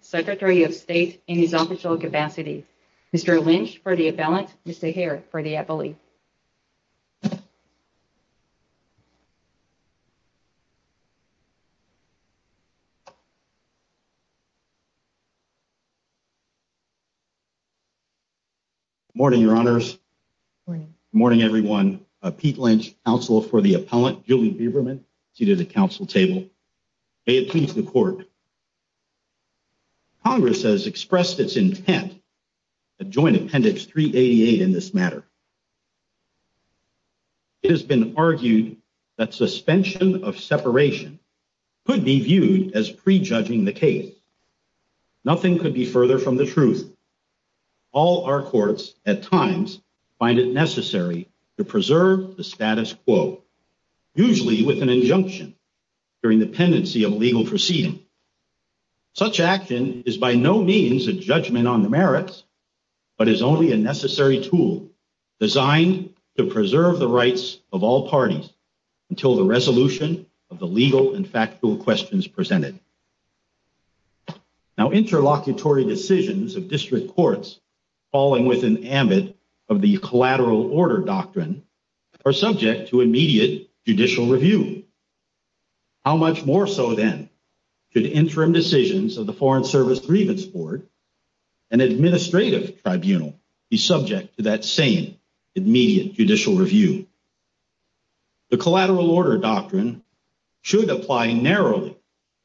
Secretary of State in his official capacity. Mr. Lynch for the appellant, Mr. Hehir for the appellee. Morning, Your Honors. Morning, everyone. Pete Lynch, counsel for the appellant, Julie Beberman, seated at the council table. May it please the court. Congress has expressed its intent to join Appendix 388 in this matter. It has been argued that suspension of separation could be viewed as prejudging the case. Nothing could be further from the truth. All our courts at times find it necessary to preserve the status quo, usually with an injunction during the pendency of legal proceeding. Such action is by no means a judgment on the merits, but is only a necessary tool designed to preserve the rights of all parties until the resolution of the legal and factual questions presented. Now, interlocutory decisions of district courts falling within the ambit of the collateral order doctrine are subject to immediate judicial review. How much more so, then, should interim decisions of the Foreign Service Grievance Board and administrative tribunal be subject to that same immediate judicial review? The collateral order doctrine should apply narrowly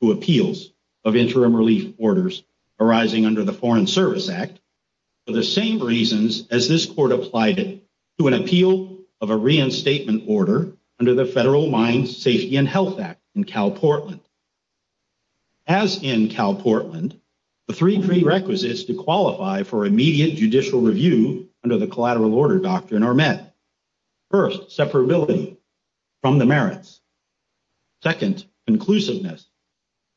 to appeals of interim relief orders arising under the Foreign Service Act, for the same reasons as this court applied it to an appeal of a reinstatement order under the Federal Mine Safety and Health Act in CalPortland. As in CalPortland, the three prerequisites to qualify for immediate judicial review under the collateral order doctrine are met. First, separability from the merits. Second, conclusiveness.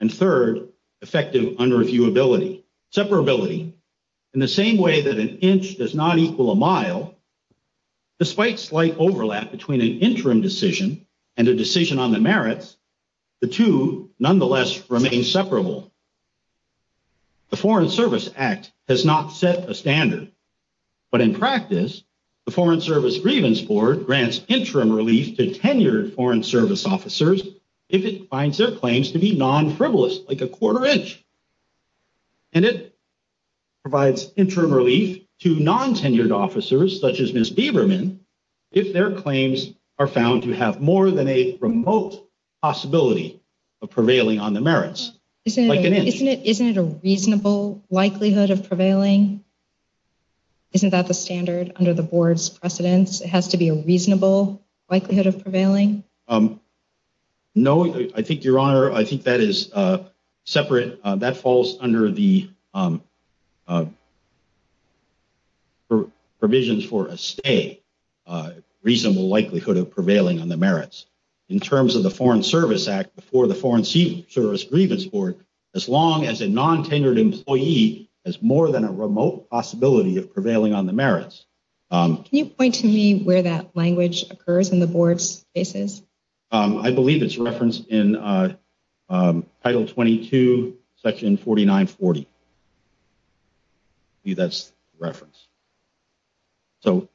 And third, effective unreviewability. Separability, in the same way that an inch does not equal a mile, despite slight overlap between an interim decision and a decision on the merits, the two nonetheless remain separable. The Foreign Service Act has not set a standard, but in practice, the Foreign Service Grievance Board grants interim relief to tenured Foreign Service officers if it finds their claims to be non-frivolous, like a quarter inch. And it provides interim relief to non-tenured officers, such as Ms. Biberman, if their claims are found to have more than a remote possibility of prevailing on the merits, like an inch. Isn't it a reasonable likelihood of prevailing? Isn't that the standard under the board's precedence? It has to be a reasonable likelihood of prevailing? No, I think, Your Honor, I think that is separate. That falls under the provisions for a stay, a reasonable likelihood of prevailing on the merits. In terms of the Foreign Service Act before the Foreign Service Grievance Board, as long as a non-tenured employee has more than a remote possibility of prevailing on the merits. Can you point to me where that language occurs in the board's cases? I believe it's referenced in Title 22, Section 4940. That's the reference. So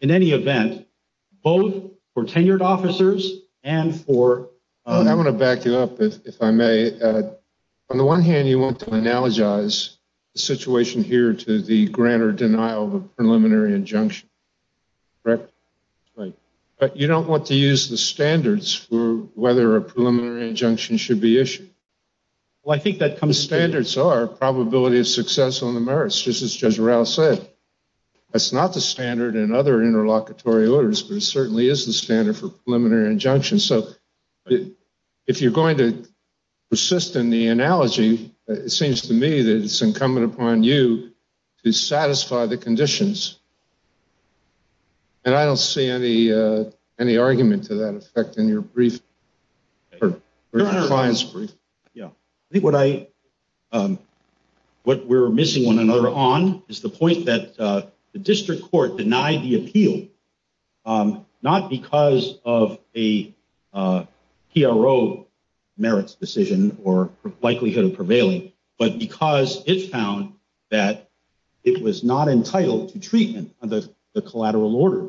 in any event, both for tenured officers and for. I want to back you up, if I may. On the one hand, you want to analogize the situation here to the grant or denial of a preliminary injunction. Correct? Right. But you don't want to use the standards for whether a preliminary injunction should be issued. Well, I think that comes standards are probability of success on the merits, just as Judge Rouse said. That's not the standard in other interlocutory orders, but it certainly is the standard for preliminary injunction. So if you're going to persist in the analogy, it seems to me that it's incumbent upon you to satisfy the conditions. And I don't see any any argument to that effect in your brief or client's brief. Yeah, I think what I what we're missing one another on is the point that the district court denied the appeal, not because of a PRO merits decision or likelihood of prevailing, but because it found that it was not entitled to treatment of the collateral order.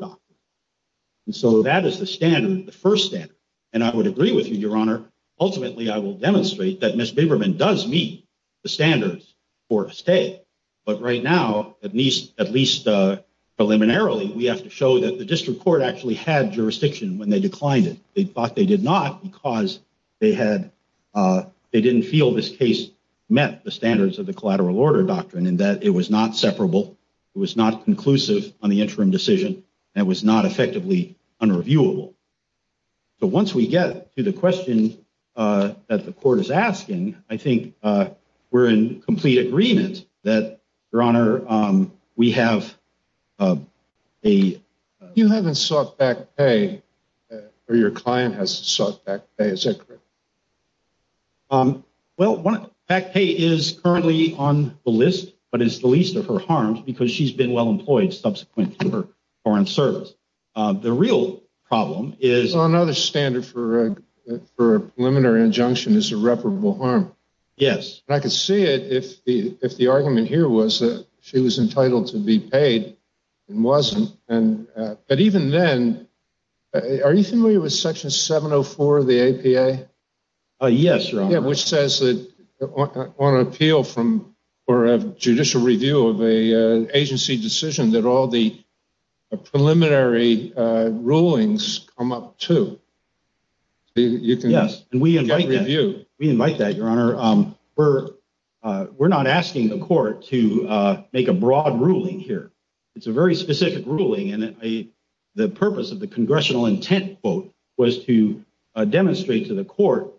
And so that is the standard, the first step. And I would agree with you, Your Honor. Ultimately, I will demonstrate that Ms. Biberman does meet the standards or stay. But right now, at least at least preliminarily, we have to show that the district court actually had jurisdiction when they declined it. They thought they did not because they had they didn't feel this case met the standards of the collateral order doctrine and that it was not separable. It was not conclusive on the interim decision. It was not effectively unreviewable. But once we get to the question that the court is asking, I think we're in complete agreement that, Your Honor, we have a. You haven't sought back pay or your client has sought back pay, is that correct? Well, one back pay is currently on the list, but it's the least of her harms because she's been well employed subsequent to her foreign service. The real problem is another standard for for a preliminary injunction is irreparable harm. Yes, I can see it. If the if the argument here was that she was entitled to be paid and wasn't. And but even then, are you familiar with Section 704 of the APA? Yes. Which says that on appeal from or judicial review of a agency decision that all the preliminary rulings come up to. You can. Yes. And we invite you. We invite that, Your Honor. We're we're not asking the court to make a broad ruling here. It's a very specific ruling. And the purpose of the congressional intent vote was to demonstrate to the court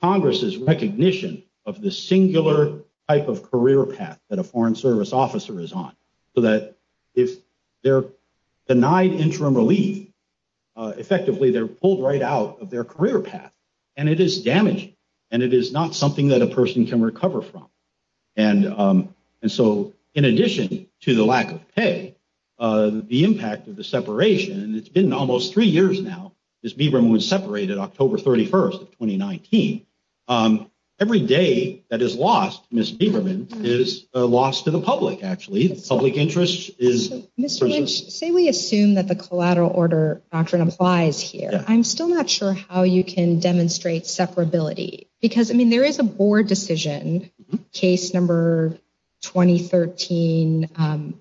Congress's recognition of the singular type of career path that a foreign service officer is on. So that if they're denied interim relief, effectively, they're pulled right out of their career path and it is damaging and it is not something that a person can recover from. And and so in addition to the lack of pay, the impact of the separation, it's been almost three years now. Ms. Biberman was separated October 31st of 2019. Every day that is lost. Ms. Biberman is lost to the public. Actually, the public interest is. Mr. Lynch, say we assume that the collateral order doctrine applies here. I'm still not sure how you can demonstrate separability because, I mean, there is a board decision case number 2013.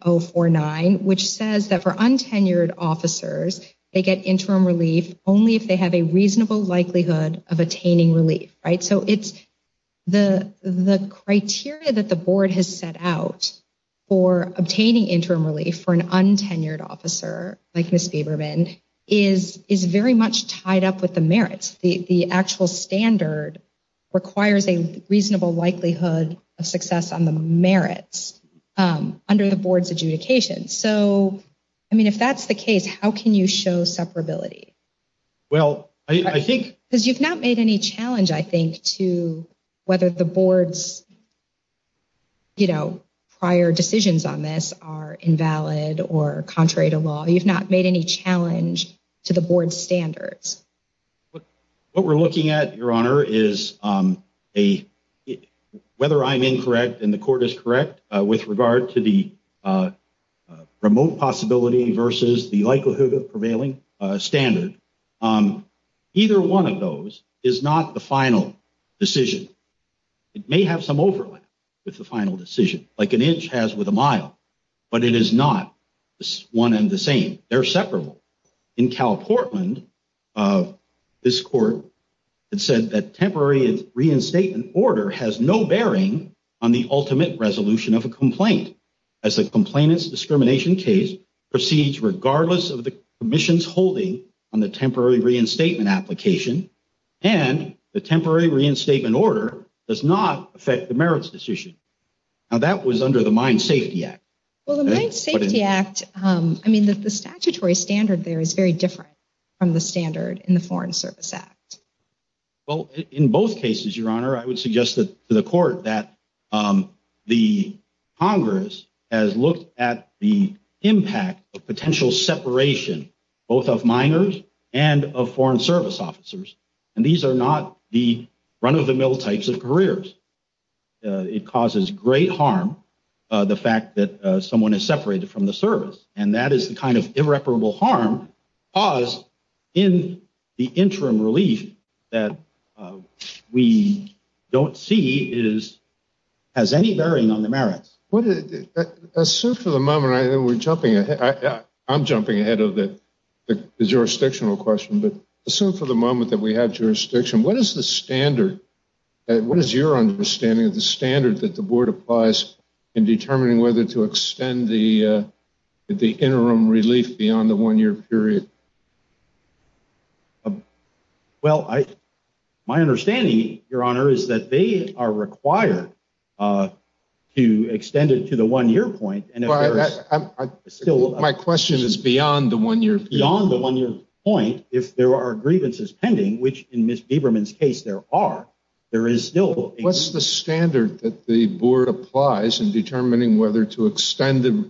Oh, four nine, which says that for untenured officers, they get interim relief only if they have a reasonable likelihood of attaining relief. Right. So it's the the criteria that the board has set out for obtaining interim relief for an untenured officer like Miss Biberman is is very much tied up with the merits. The actual standard requires a reasonable likelihood of success on the merits under the board's adjudication. So, I mean, if that's the case, how can you show separability? Well, I think because you've not made any challenge, I think, to whether the board's. You know, prior decisions on this are invalid or contrary to law, you've not made any challenge to the board standards. What we're looking at, Your Honor, is a whether I'm incorrect and the court is correct with regard to the remote possibility versus the likelihood of prevailing standard. Either one of those is not the final decision. It may have some overlap with the final decision, like an inch has with a mile, but it is not one and the same. They're separable. In Cal Portland, this court said that temporary reinstatement order has no bearing on the ultimate resolution of a complaint. As a complainant's discrimination case proceeds, regardless of the commission's holding on the temporary reinstatement application and the temporary reinstatement order does not affect the merits decision. Now, that was under the Mine Safety Act. Well, the Mine Safety Act, I mean, the statutory standard there is very different from the standard in the Foreign Service Act. Well, in both cases, Your Honor, I would suggest to the court that the Congress has looked at the impact of potential separation, both of minors and of Foreign Service officers. And these are not the run of the mill types of careers. It causes great harm. The fact that someone is separated from the service and that is the kind of irreparable harm caused in the interim relief that we don't see is has any bearing on the merits. Assume for the moment, I'm jumping ahead of the jurisdictional question, but assume for the moment that we have jurisdiction, what is the standard? What is your understanding of the standard that the board applies in determining whether to extend the interim relief beyond the one year period? Well, my understanding, Your Honor, is that they are required to extend it to the one year point. And if my question is beyond the one year beyond the one year point, if there are grievances pending, which in Ms. There is still what's the standard that the board applies in determining whether to extend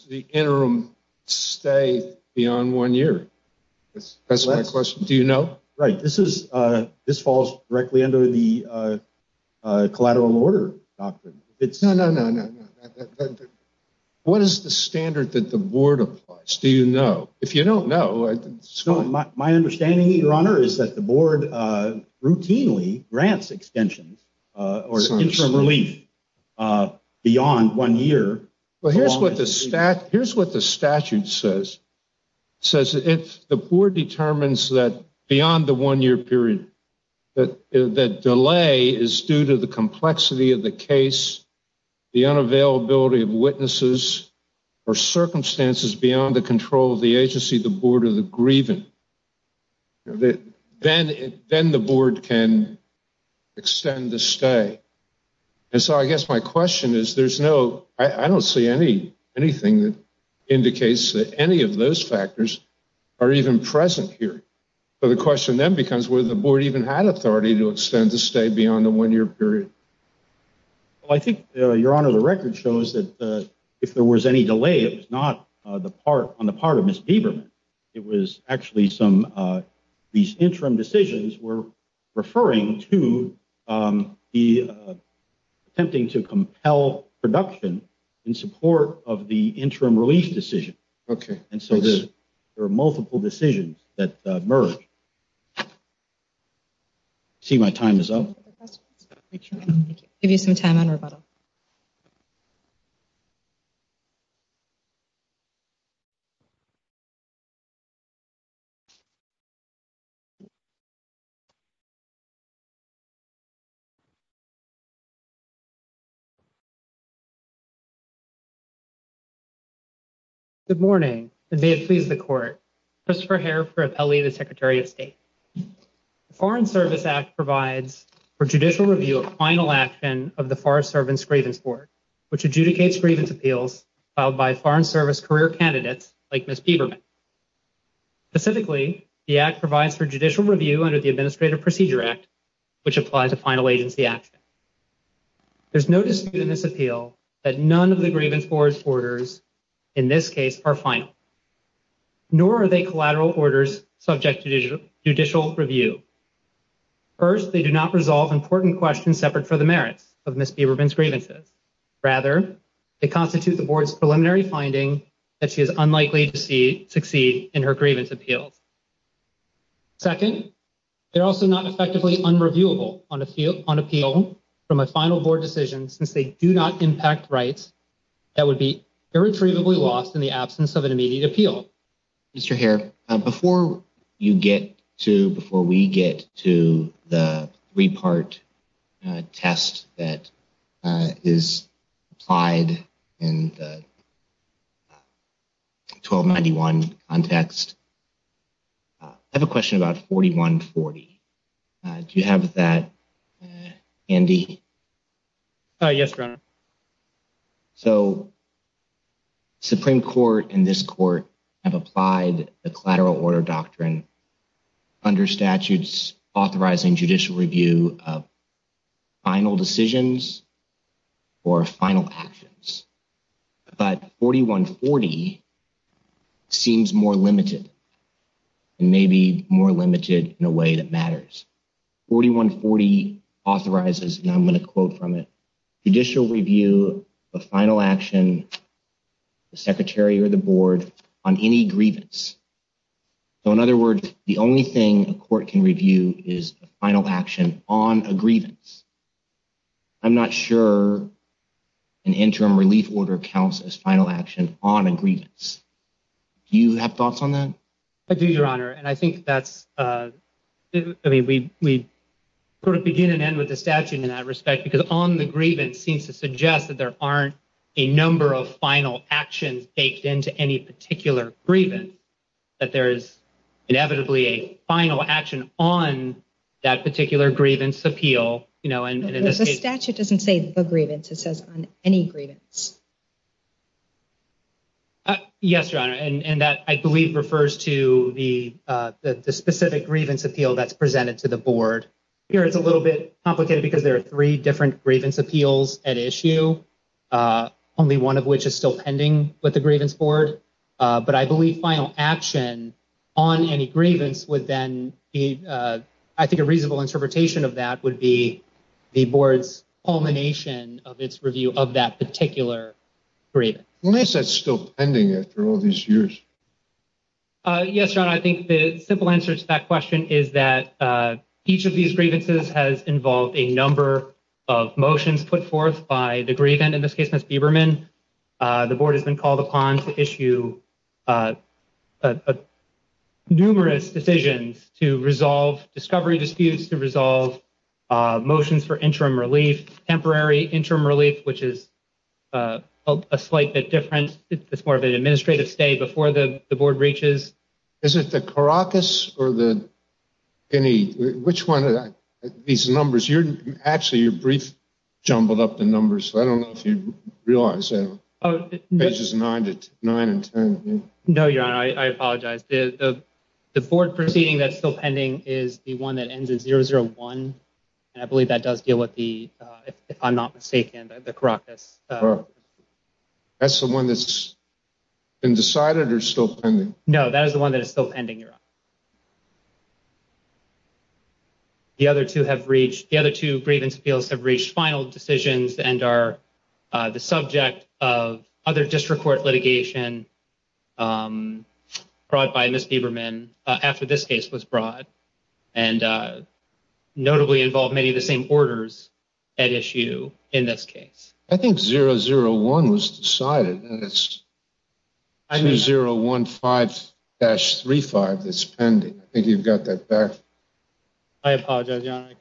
the interim stay beyond one year? That's my question. Do you know? Right. This is this falls directly under the collateral order doctrine. It's no, no, no, no, no. What is the standard that the board applies? Do you know if you don't know? So my understanding, Your Honor, is that the board routinely grants extensions or interim relief beyond one year. Well, here's what the stat here's what the statute says, says if the board determines that beyond the one year period, that that delay is due to the complexity of the case, the unavailability of witnesses or circumstances beyond the control of the agency, the board of the grieving. Then then the board can extend the stay. And so I guess my question is, there's no I don't see any anything that indicates that any of those factors are even present here. So the question then becomes where the board even had authority to extend the stay beyond the one year period. Well, I think, Your Honor, the record shows that if there was any delay, it was not the part on the part of Miss Biberman. It was actually some of these interim decisions were referring to the attempting to compel production in support of the interim relief decision. And so there are multiple decisions that merge. See, my time is up. Give you some time on rebuttal. Thank you, Your Honor. Thank you, Your Honor. Thank you, Your Honor. Thank you, Your Honor. Thank you, Your Honor. First, they do not resolve important questions separate for the merits of Miss Biberman's grievances. Rather, it constitutes the board's preliminary finding that she is unlikely to see succeed in her grievance appeals. Second, they're also not effectively unreviewable on appeal on appeal from a final board decision since they do not impact rights that would be irretrievably lost in the absence of an immediate appeal. So, Mr. Hare, before you get to before we get to the three part test that is applied and. Twelve ninety one on text. I have a question about forty one forty. Do you have that, Andy? Yes, Your Honor. So. Supreme Court and this court have applied the collateral order doctrine. Under statutes authorizing judicial review of. Final decisions or final actions. But forty one forty seems more limited. Maybe more limited in a way that matters. Forty one forty authorizes and I'm going to quote from it judicial review of final action. The secretary or the board on any grievance. So, in other words, the only thing a court can review is a final action on a grievance. I'm not sure an interim relief order counts as final action on a grievance. Do you have thoughts on that? I do, Your Honor. And I think that's I mean, we sort of begin and end with the statute in that respect, because on the grievance seems to suggest that there aren't a number of final actions baked into any particular grievance. That there is inevitably a final action on that particular grievance appeal. You know, and the statute doesn't say the grievance. It says on any grievance. Yes, Your Honor, and that I believe refers to the specific grievance appeal that's presented to the board here. It's a little bit complicated because there are three different grievance appeals at issue. Only one of which is still pending with the grievance board. But I believe final action on any grievance would then be, I think, a reasonable interpretation of that would be the board's culmination of its review of that particular grievance. At least that's still pending after all these years. Yes, Your Honor, I think the simple answer to that question is that each of these grievances has involved a number of motions put forth by the grievant. And in this case, Ms. Biberman, the board has been called upon to issue numerous decisions to resolve discovery disputes, to resolve motions for interim relief, temporary interim relief, which is a slight bit different. It's more of an administrative stay before the board reaches. Is it the Caracas or the Guinea? Which one of these numbers? Actually, your brief jumbled up the numbers. I don't know if you realize. Pages nine to nine and ten. No, Your Honor, I apologize. The board proceeding that's still pending is the one that ends in 001. And I believe that does deal with the, if I'm not mistaken, the Caracas. That's the one that's been decided or still pending? No, that is the one that is still pending, Your Honor. The other two have reached, the other two grievance appeals have reached final decisions and are the subject of other district court litigation brought by Ms. Biberman after this case was brought and notably involve many of the same orders at issue in this case. I think 001 was decided and it's 2015-35 that's pending. I think you've got that back. I apologize, Your Honor.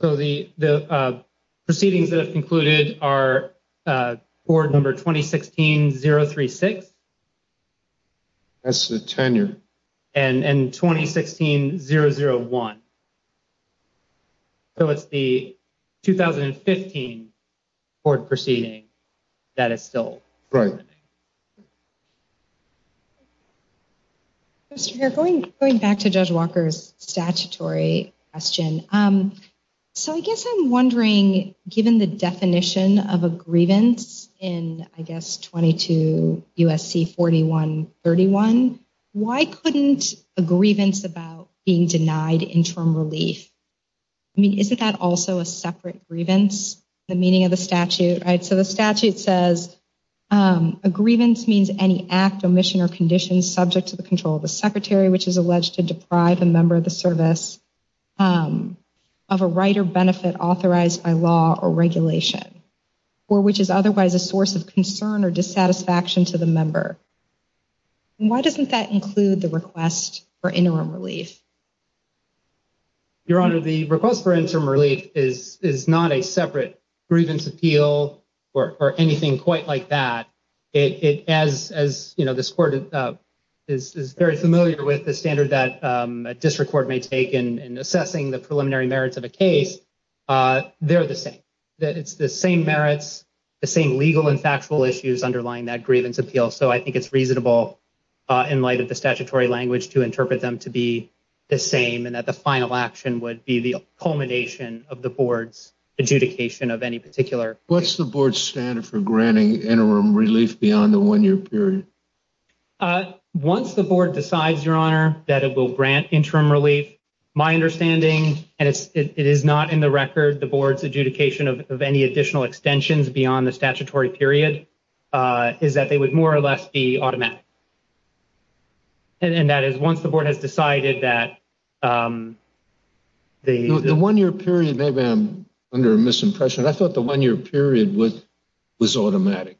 So the proceedings that have concluded are board number 2016-036. That's the tenure. And 2016-001. So it's the 2015 board proceeding that is still pending. Right. Going back to Judge Walker's statutory question. So I guess I'm wondering, given the definition of a grievance in, I guess, 22 U.S.C. 41-31, why couldn't a grievance about being denied interim relief? I mean, isn't that also a separate grievance, the meaning of the statute? So the statute says a grievance means any act, omission or condition subject to the control of the secretary, which is alleged to deprive a member of the service of a right or benefit authorized by law or regulation or which is otherwise a source of concern or dissatisfaction to the member. Why doesn't that include the request for interim relief? Your Honor, the request for interim relief is not a separate grievance appeal or anything quite like that. As you know, this court is very familiar with the standard that a district court may take in assessing the preliminary merits of a case. They're the same. It's the same merits, the same legal and factual issues underlying that grievance appeal. So I think it's reasonable in light of the statutory language to interpret them to be the same and that the final action would be the culmination of the board's adjudication of any particular. What's the board's standard for granting interim relief beyond the one year period? Once the board decides, Your Honor, that it will grant interim relief, my understanding, and it is not in the record, the board's adjudication of any additional extensions beyond the statutory period is that they would more or less be automatic. And that is once the board has decided that the one year period, maybe I'm under a misimpression. I thought the one year period was automatic.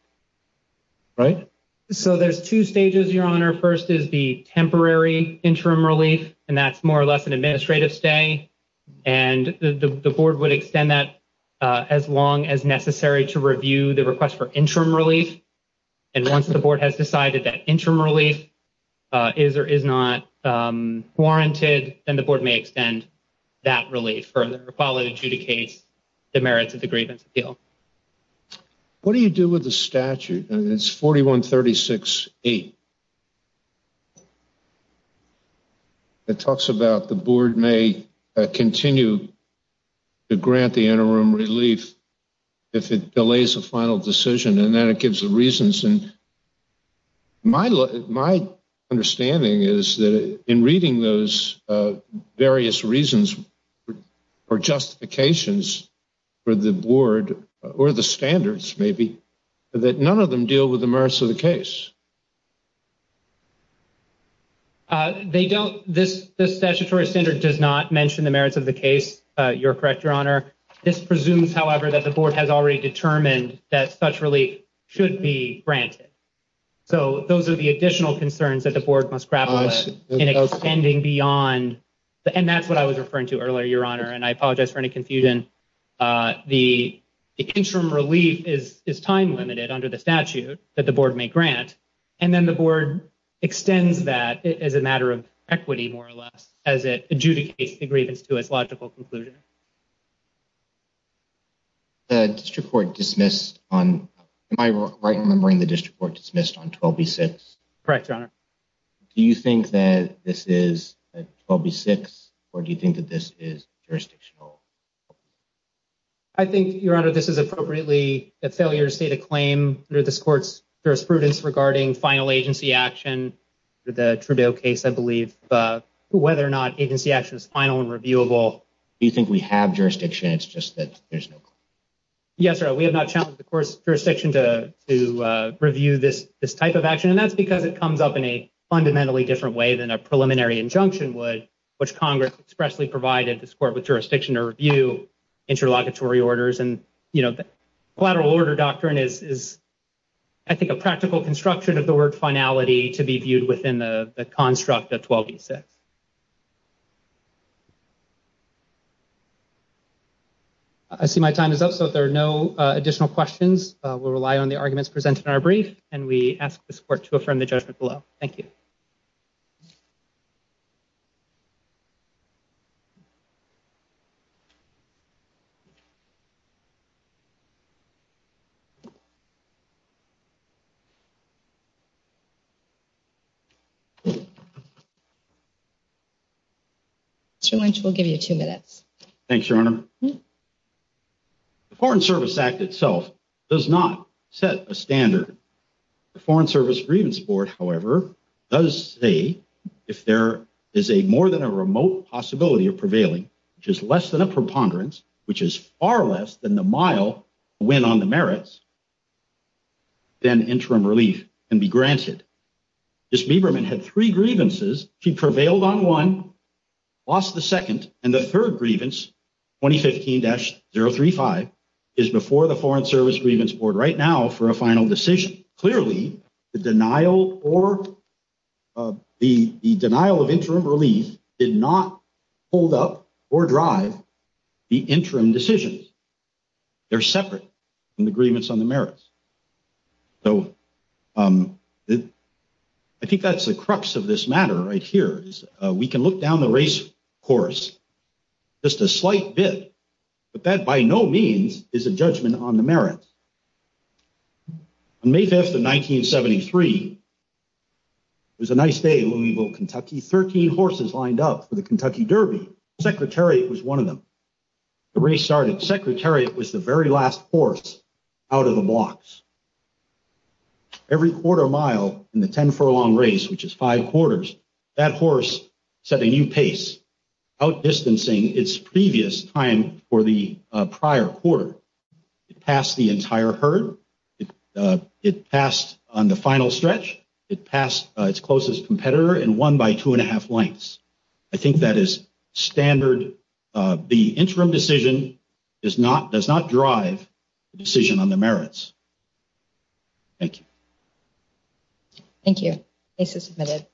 Right. So there's two stages, Your Honor. First is the temporary interim relief, and that's more or less an administrative stay. And the board would extend that as long as necessary to review the request for interim relief. And once the board has decided that interim relief is or is not warranted and the board may extend that relief for the quality to the case, the merits of the grievance appeal. What do you do with the statute? And it's forty one thirty six eight. It talks about the board may continue to grant the interim relief if it delays a final decision and then it gives the reasons. And my my understanding is that in reading those various reasons for justifications for the board or the standards, maybe that none of them deal with the merits of the case. They don't. This this statutory standard does not mention the merits of the case. You're correct, Your Honor. This presumes, however, that the board has already determined that such relief should be granted. So those are the additional concerns that the board must grapple in extending beyond. And that's what I was referring to earlier, Your Honor. And I apologize for any confusion. The interim relief is is time limited under the statute that the board may grant. And then the board extends that as a matter of equity, more or less, as it adjudicates the grievance to its logical conclusion. The district court dismissed on my right, remembering the district court dismissed on twelve, six. Correct, Your Honor. Do you think that this is probably six or do you think that this is jurisdictional? I think, Your Honor, this is appropriately a failure to state a claim under this court's jurisprudence regarding final agency action. The Trudeau case, I believe, whether or not agency action is final and reviewable. Do you think we have jurisdiction? It's just that there's no. Yes, sir. We have not challenged the court's jurisdiction to to review this this type of action. And that's because it comes up in a fundamentally different way than a preliminary injunction would, which Congress expressly provided this court with jurisdiction to review interlocutory orders. And, you know, the collateral order doctrine is, I think, a practical construction of the word finality to be viewed within the construct of twelve, six. I see my time is up, so there are no additional questions. We rely on the arguments presented in our brief and we ask the support to affirm the judgment below. Thank you. Mr. Lynch, we'll give you two minutes. Thanks, Your Honor. Foreign Service Act itself does not set a standard. The Foreign Service Grievance Board, however, does say if there is a more than a remote possibility of prevailing, which is less than a preponderance, which is far less than the mile win on the merits. Then interim relief can be granted. Ms. Biberman had three grievances. She prevailed on one, lost the second, and the third grievance, 2015-035, is before the Foreign Service Grievance Board right now for a final decision. Clearly, the denial or the denial of interim relief did not hold up or drive the interim decisions. They're separate from the grievance on the merits. So I think that's the crux of this matter right here. We can look down the race course just a slight bit, but that by no means is a judgment on the merits. On May 5th of 1973, it was a nice day in Louisville, Kentucky. Thirteen horses lined up for the Kentucky Derby. Secretariat was one of them. The race started. Secretariat was the very last horse out of the blocks. Every quarter mile in the ten furlong race, which is five quarters, that horse set a new pace outdistancing its previous time for the prior quarter. It passed the entire herd. It passed on the final stretch. It passed its closest competitor in one by two and a half lengths. I think that is standard. The interim decision does not drive the decision on the merits. Thank you. Thank you. Case is submitted.